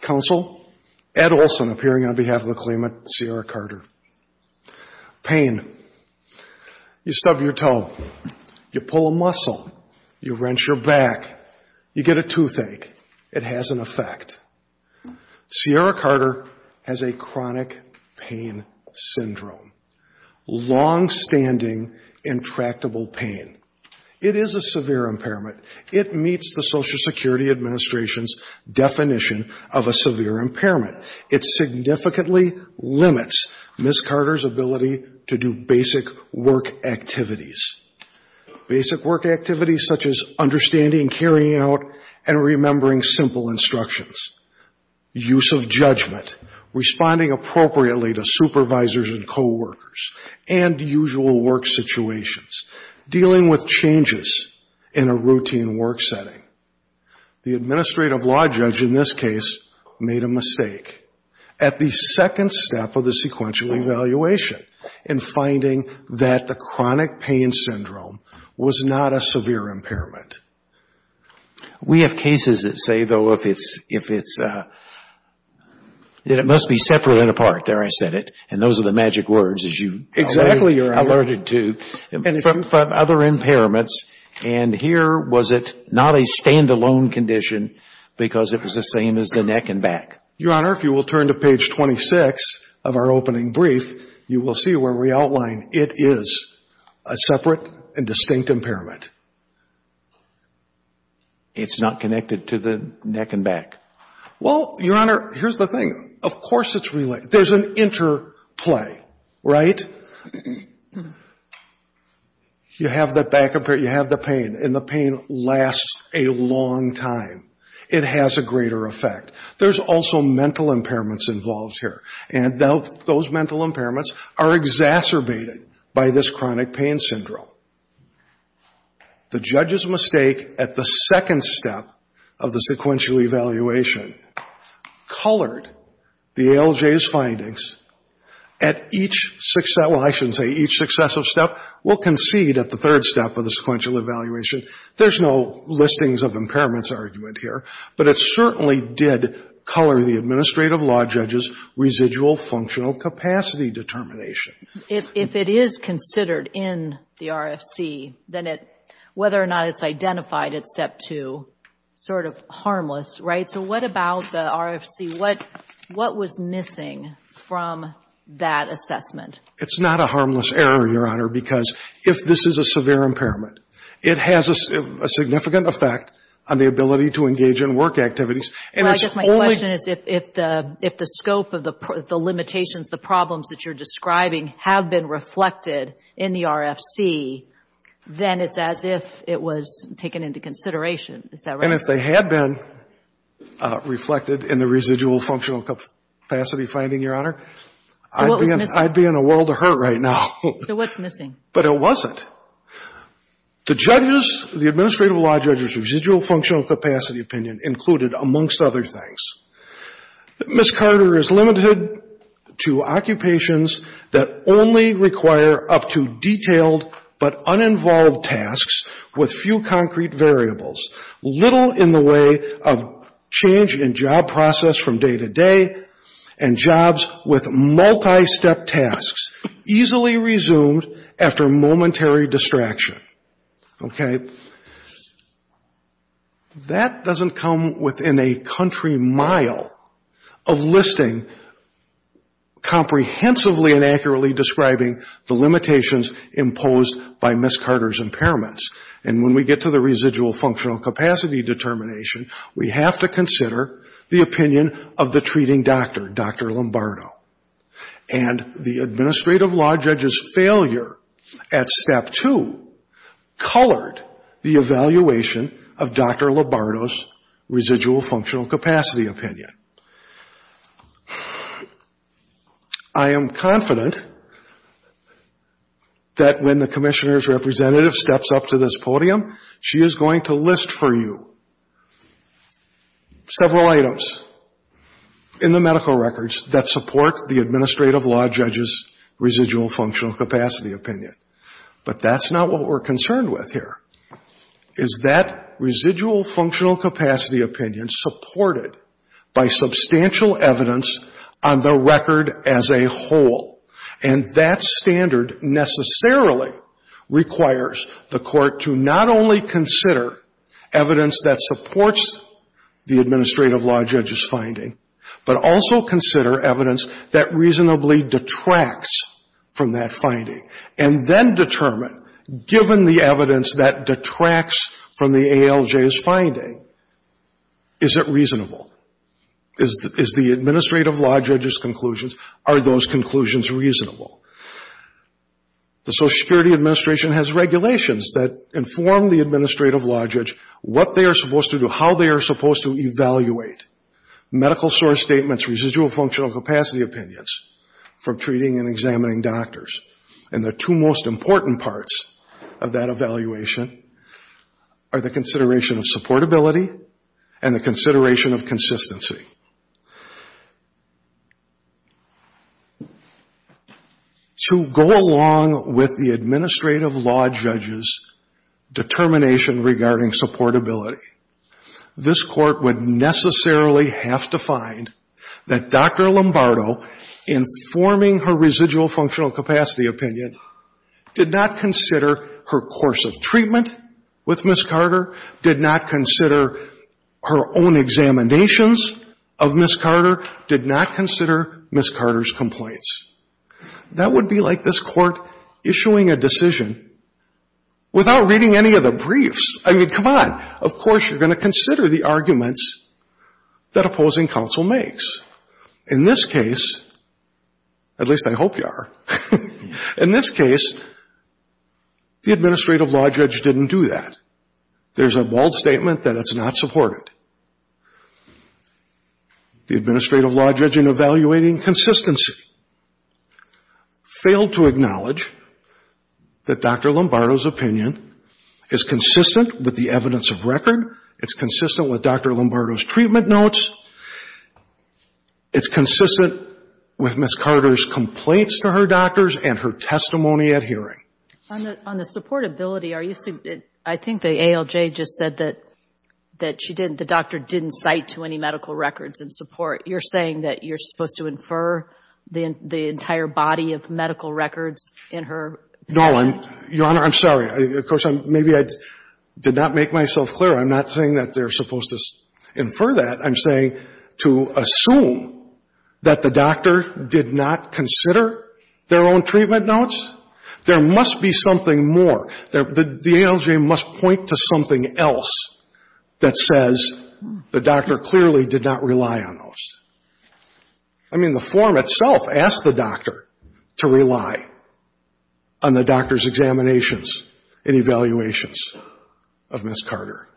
Counsel, Ed Olson, appearing on behalf of the claimant, Ciara Carter. You stub your toe. You pull a muscle. You wrench your back. You get a toothache. It has an effect. Ciara Carter has a chronic pain syndrome. Long-standing, intractable pain. It is a severe impairment. It meets the Social Security Administration's definition of a severe impairment. It significantly limits Ms. Carter's ability to do basic work activities. Basic work activities such as understanding, carrying out, and remembering simple instructions. Use of judgment. Responding appropriately to supervisors and co-workers. And usual work situations. Dealing with changes in a routine work setting. The administrative law judge in this case made a mistake at the second step of the sequential evaluation in finding that the chronic pain syndrome was not a severe impairment. We have cases that say, though, if it's, if it's, that it must be separate and apart. There I said it. And those are the magic words, as you alerted to. From other impairments. And here was it not a standalone condition because it was the same as the neck and back. Your Honor, if you will turn to page 26 of our opening brief, you will see where we outline it is a separate and distinct impairment. It's not connected to the neck and back. Well, Your Honor, here's the thing. Of course it's related. There's an interplay. Right? And you have the back impairment, you have the pain. And the pain lasts a long time. It has a greater effect. There's also mental impairments involved here. And those mental impairments are exacerbated by this chronic pain syndrome. The judge's mistake at the second step of the sequential evaluation colored the ALJ's findings at each success, well, I shouldn't say each successive step. We'll concede at the third step of the sequential evaluation. There's no listings of impairments argument here. But it certainly did color the administrative law judge's residual functional capacity determination. If it is considered in the RFC, then whether or not it's identified at step two, sort of harmless, right? So what about the RFC? What was missing from that assessment? It's not a harmless error, Your Honor, because if this is a severe impairment, it has a significant effect on the ability to engage in work activities. So I guess my question is if the scope of the limitations, the problems that you're describing, have been reflected in the RFC, then it's as if it was taken into consideration. Is that right? And if they had been reflected in the residual functional capacity finding, Your Honor, I'd be in a world of hurt right now. So what's missing? But it wasn't. The judge's, the administrative law judge's residual functional capacity opinion included, amongst other things, Ms. Carter is limited to occupations that only require up to detailed but uninvolved tasks with few concrete variables, little in the way of change in job process from day to day, and jobs with multi-step tasks, easily resumed after momentary distraction. Okay? That doesn't come within a country mile of listing comprehensively and accurately describing the limitations imposed by Ms. Carter's impairments. And when we get to the residual functional capacity determination, we have to consider the opinion of the treating doctor, Dr. Lombardo. And the administrative law judge's failure at step two colored the evaluation of Dr. Lombardo's residual functional capacity opinion. I am confident that when the Commissioner's representative steps up to this podium, she is going to list for you several items in the medical records that support the administrative law judge's residual functional capacity opinion. But that's not what we're concerned with here, is that residual functional capacity opinion supported by substantial evidence on the record as a whole. And that standard necessarily requires the court to not only consider evidence that supports the administrative law judge's finding, but also consider evidence that reasonably detracts from that finding. And then determine, given the evidence that detracts from the ALJ's finding, is it reasonable? Is the administrative law judge's conclusions, are those conclusions reasonable? The Social Security Administration has regulations that inform the administrative law judge what they are supposed to do, how they are supposed to evaluate medical source statements, residual functional capacity opinions, for treating and examining doctors. And the two most important parts of that evaluation are the consideration of supportability and the consideration of consistency. To go along with the administrative law judge's determination regarding supportability, this court would necessarily have to find that Dr. Lombardo, informing her residual functional capacity opinion, did not consider her course of treatment with Ms. Carter, did not consider her own examinations of Ms. Carter, did not consider Ms. Carter's complaints. That would be like this Court issuing a decision without reading any of the briefs. I mean, come on. Of course you're going to consider the arguments that opposing counsel makes. In this case, at least I hope you are, in this case, the administrative law judge didn't do that. There's a bold statement that it's not supported. The administrative law judge, in evaluating consistency, failed to acknowledge that Dr. Lombardo's opinion is consistent with the evidence of record, it's consistent with Dr. Lombardo's treatment notes, it's consistent with Ms. Carter's complaints to her doctors and her testimony at hearing. On the supportability, I think the ALJ just said that she didn't, the doctor didn't cite to any medical records in support. You're saying that you're supposed to infer the entire body of medical records in her? No, Your Honor, I'm sorry. Of course, maybe I did not make myself clear. I'm not saying that they're supposed to infer that. I'm saying to assume that the doctor did not consider their own treatment notes. There must be something more. The ALJ must point to something else that says the doctor clearly did not rely on those. I mean, the form itself asked the doctor to rely on the doctor's examinations and evaluations of Ms. Carter.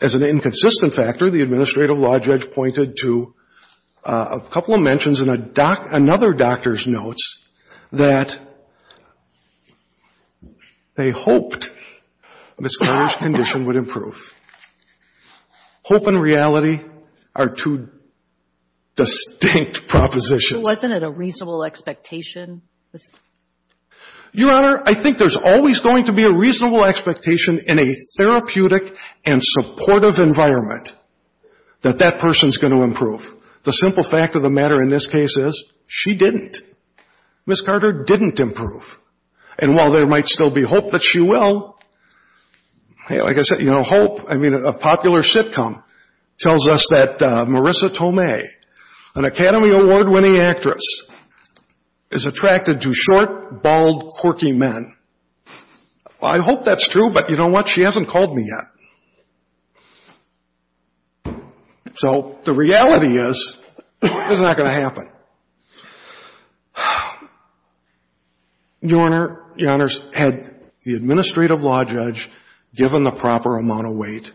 As an inconsistent factor, the administrative law judge pointed to a couple of mentions in another doctor's notes that they hoped Ms. Carter's condition would improve. Hope and reality are two distinct propositions. Wasn't it a reasonable expectation? Your Honor, I think there's always going to be a reasonable expectation in a therapeutic and supportive environment that that person's going to improve. The simple fact of the matter in this case is she didn't. Ms. Carter didn't improve. And while there might still be hope that she will, like I said, you know, hope. I mean, a popular sitcom tells us that Marissa Tomei, an Academy Award-winning actress, is attracted to short, bald, quirky men. I hope that's true, but you know what? She hasn't called me yet. So the reality is it's not going to happen. Your Honor, your Honors, had the administrative law judge given the proper amount of weight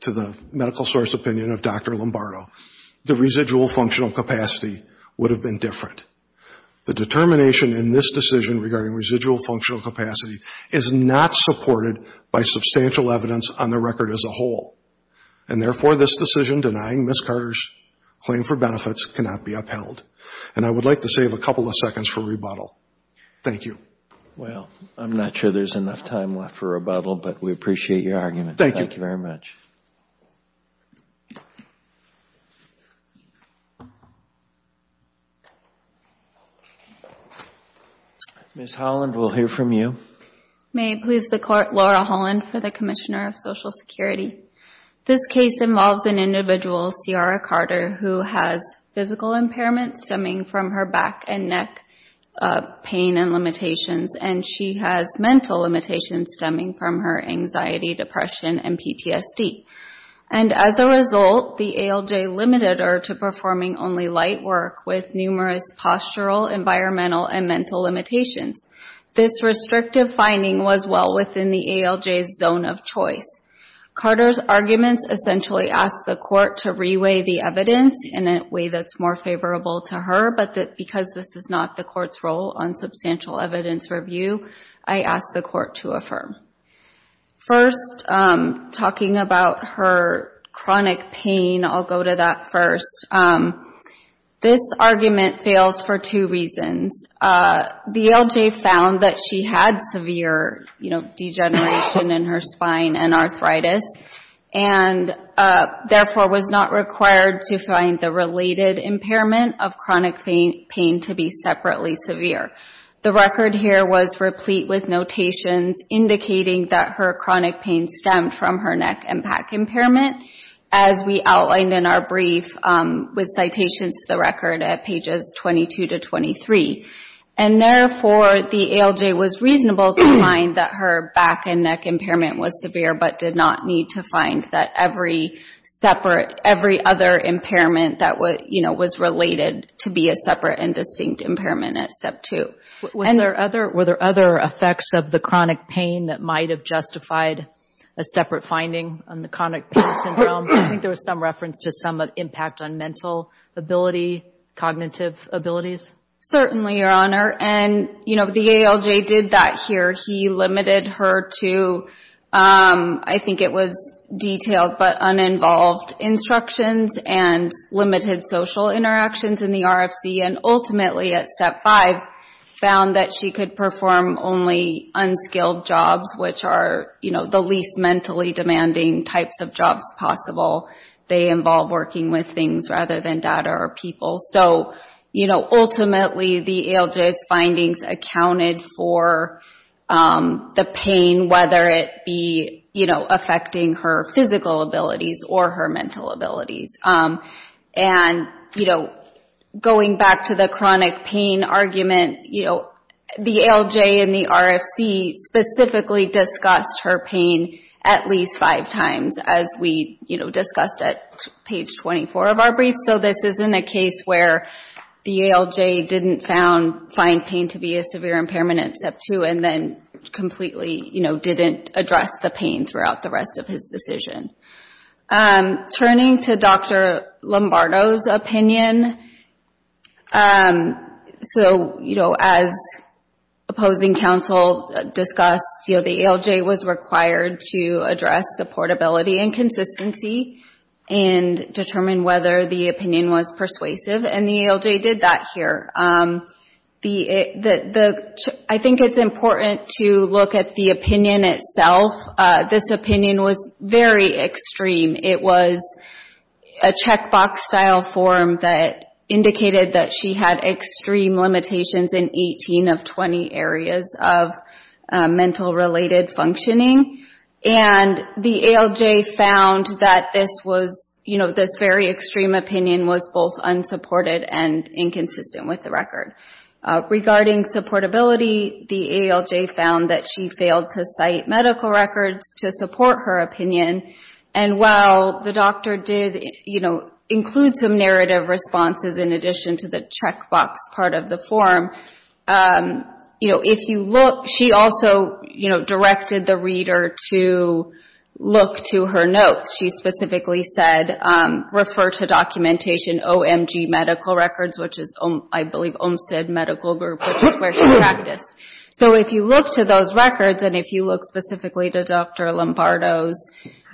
to the medical source opinion of Dr. Lombardo, the residual functional capacity would have been different. The determination in this decision regarding residual functional capacity is not supported by substantial evidence on the record as a whole. And therefore, this decision denying Ms. Carter's claim for benefits cannot be upheld. And I would like to save a couple of seconds for rebuttal. Thank you. Well, I'm not sure there's enough time left for rebuttal, but we appreciate your argument. Thank you. Thank you very much. Ms. Holland, we'll hear from you. May it please the Court, Laura Holland for the Commissioner of Social Security. This case involves an individual, Ciara Carter, who has physical impairment stemming from her back and neck pain and limitations, and she has mental limitations stemming from her anxiety, depression, and PTSD. And as a result, the ALJ limited her to performing only light work with numerous postural, environmental, and mental limitations. This restrictive finding was well within the ALJ's zone of choice. Carter's arguments essentially ask the Court to reweigh the evidence in a way that's more favorable to her, but because this is not the Court's role on substantial evidence review, I ask the Court to affirm. First, talking about her chronic pain, I'll go to that first. This argument fails for two reasons. The ALJ found that she had severe degeneration in her spine and arthritis and therefore was not required to find the related impairment of chronic pain to be separately severe. The record here was replete with notations indicating that her chronic pain stemmed from her neck and back impairment, as we outlined in our brief with citations to the record at pages 22 to 23. And therefore, the ALJ was reasonable to find that her back and neck impairment was severe but did not need to find that every separate, every other impairment that was related to be a separate and distinct impairment at step two. Were there other effects of the chronic pain that might have justified a separate finding on the chronic pain syndrome? I think there was some reference to some impact on mental ability, cognitive abilities. Certainly, Your Honor. And, you know, the ALJ did that here. He limited her to, I think it was detailed but uninvolved instructions and limited social interactions in the RFC and ultimately at step five found that she could perform only unskilled jobs, which are, you know, the least mentally demanding types of jobs possible. They involve working with things rather than data or people. So, you know, ultimately the ALJ's findings accounted for the pain, whether it be, you know, affecting her physical abilities or her mental abilities. And, you know, going back to the chronic pain argument, you know, the ALJ and the RFC specifically discussed her pain at least five times, as we, you know, discussed at page 24 of our brief. So this isn't a case where the ALJ didn't find pain to be a severe impairment at step two and then completely, you know, didn't address the pain throughout the rest of his decision. Turning to Dr. Lombardo's opinion, so, you know, as opposing counsel discussed, you know, the ALJ was required to address supportability and consistency and determine whether the opinion was persuasive, and the ALJ did that here. I think it's important to look at the opinion itself. This opinion was very extreme. It was a checkbox-style form that indicated that she had extreme limitations in 18 of 20 areas of mental-related functioning, and the ALJ found that this was, you know, this very extreme opinion was both unsupported and inconsistent with the record. Regarding supportability, the ALJ found that she failed to cite medical records to support her opinion, and while the doctor did, you know, include some narrative responses in addition to the checkbox part of the form, you know, if you look, she also, you know, directed the reader to look to her notes. She specifically said, refer to documentation OMG medical records, which is, I believe, OMSID medical group, which is where she practiced. So if you look to those records, and if you look specifically to Dr. Lombardo's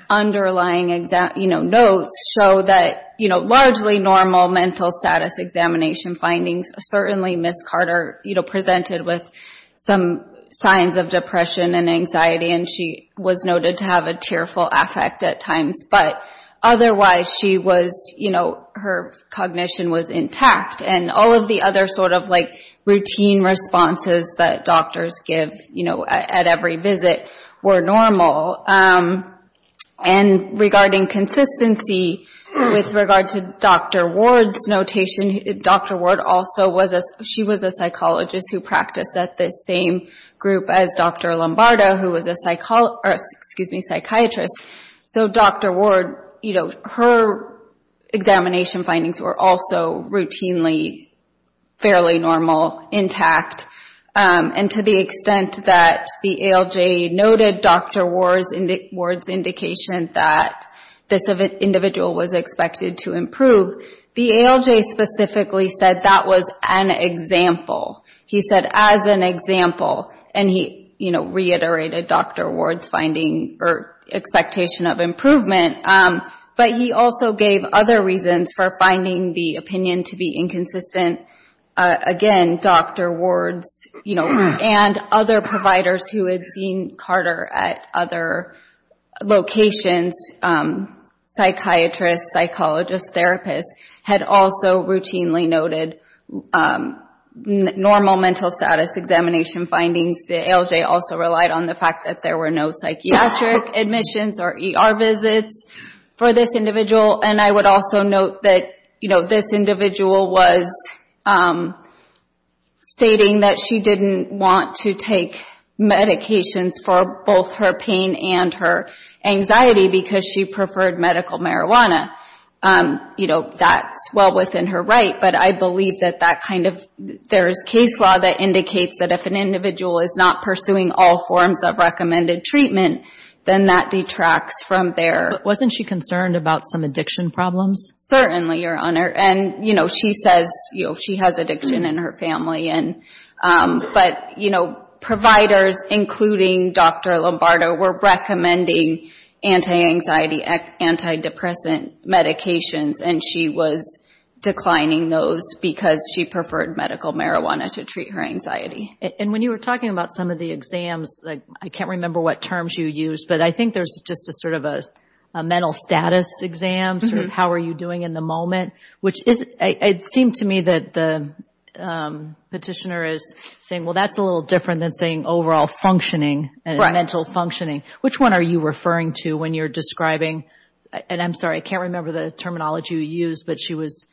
underlying, you know, notes, show that, you know, largely normal mental status examination findings, certainly Ms. Carter, you know, presented with some signs of depression and anxiety, and she was noted to have a tearful affect at times, but otherwise she was, you know, her cognition was intact, and all of the other sort of, like, routine responses that doctors give, you know, at every visit were normal. And regarding consistency, with regard to Dr. Ward's notation, Dr. Ward also was a, she was a psychologist who practiced at the same group as Dr. Lombardo, who was a psychologist, excuse me, psychiatrist, so Dr. Ward, you know, her examination findings were also routinely fairly normal, intact, and to the extent that the ALJ noted Dr. Ward's indication that this individual was expected to improve, the ALJ specifically said that was an example. He said as an example, and he, you know, reiterated Dr. Ward's finding or expectation of improvement, but he also gave other reasons for finding the opinion to be inconsistent. Again, Dr. Ward's, you know, and other providers who had seen Carter at other locations, psychiatrists, psychologists, therapists, had also routinely noted normal mental status examination findings. The ALJ also relied on the fact that there were no psychiatric admissions or ER visits for this individual, and I would also note that, you know, this individual was stating that she didn't want to take medications for both her pain and her anxiety because she preferred medical marijuana. You know, that's well within her right, but I believe that that kind of, there is case law that indicates that if an individual is not pursuing all forms of recommended treatment, then that detracts from their. But wasn't she concerned about some addiction problems? Certainly, Your Honor, and, you know, she says she has addiction in her family, but, you know, providers, including Dr. Lombardo, were recommending anti-anxiety, anti-depressant medications, and she was declining those because she preferred medical marijuana to treat her anxiety. And when you were talking about some of the exams, like I can't remember what terms you used, but I think there's just a sort of a mental status exam, sort of how are you doing in the moment, which is, it seemed to me that the petitioner is saying, well, that's a little different than saying overall functioning and mental functioning. Which one are you referring to when you're describing, and I'm sorry, I can't remember the terminology you used, but she was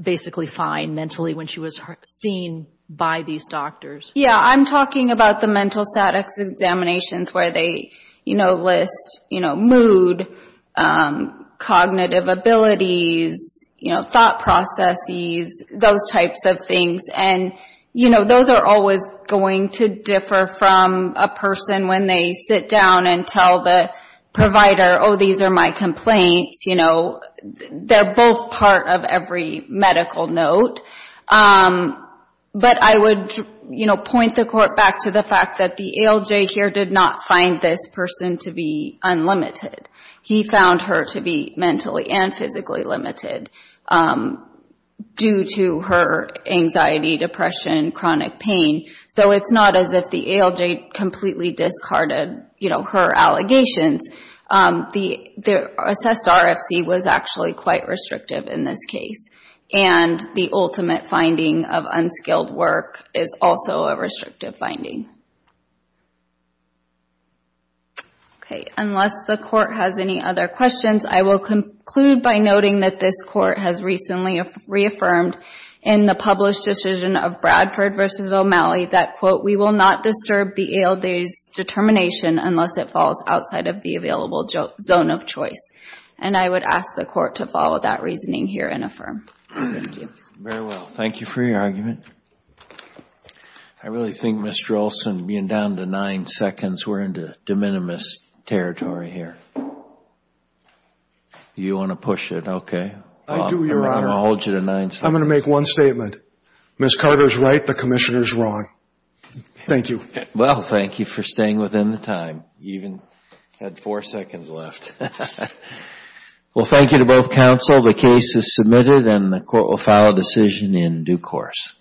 basically fine mentally when she was seen by these doctors? Yeah, I'm talking about the mental status examinations where they, you know, list, you know, mood, cognitive abilities, you know, thought processes, those types of things. And, you know, those are always going to differ from a person when they sit down and tell the provider, oh, these are my complaints, you know, they're both part of every medical note. But I would, you know, point the court back to the fact that the ALJ here did not find this person to be unlimited. He found her to be mentally and physically limited due to her anxiety, depression, chronic pain. So it's not as if the ALJ completely discarded, you know, her allegations. The assessed RFC was actually quite restrictive in this case. And the ultimate finding of unskilled work is also a restrictive finding. Okay. Unless the court has any other questions, I will conclude by noting that this court has recently reaffirmed in the published decision of Bradford v. O'Malley that, quote, we will not disturb the ALJ's determination unless it falls outside of the available zone of choice. And I would ask the court to follow that reasoning here and affirm. Thank you. Very well. Thank you for your argument. I really think, Mr. Olson, being down to nine seconds, we're into de minimis territory here. You want to push it? Okay. I do, Your Honor. I'm going to hold you to nine seconds. I'm going to make one statement. Ms. Carter is right. The Commissioner is wrong. Thank you. Well, thank you for staying within the time. You even had four seconds left. Well, thank you to both counsel. The case is submitted and the court will file a decision in due course.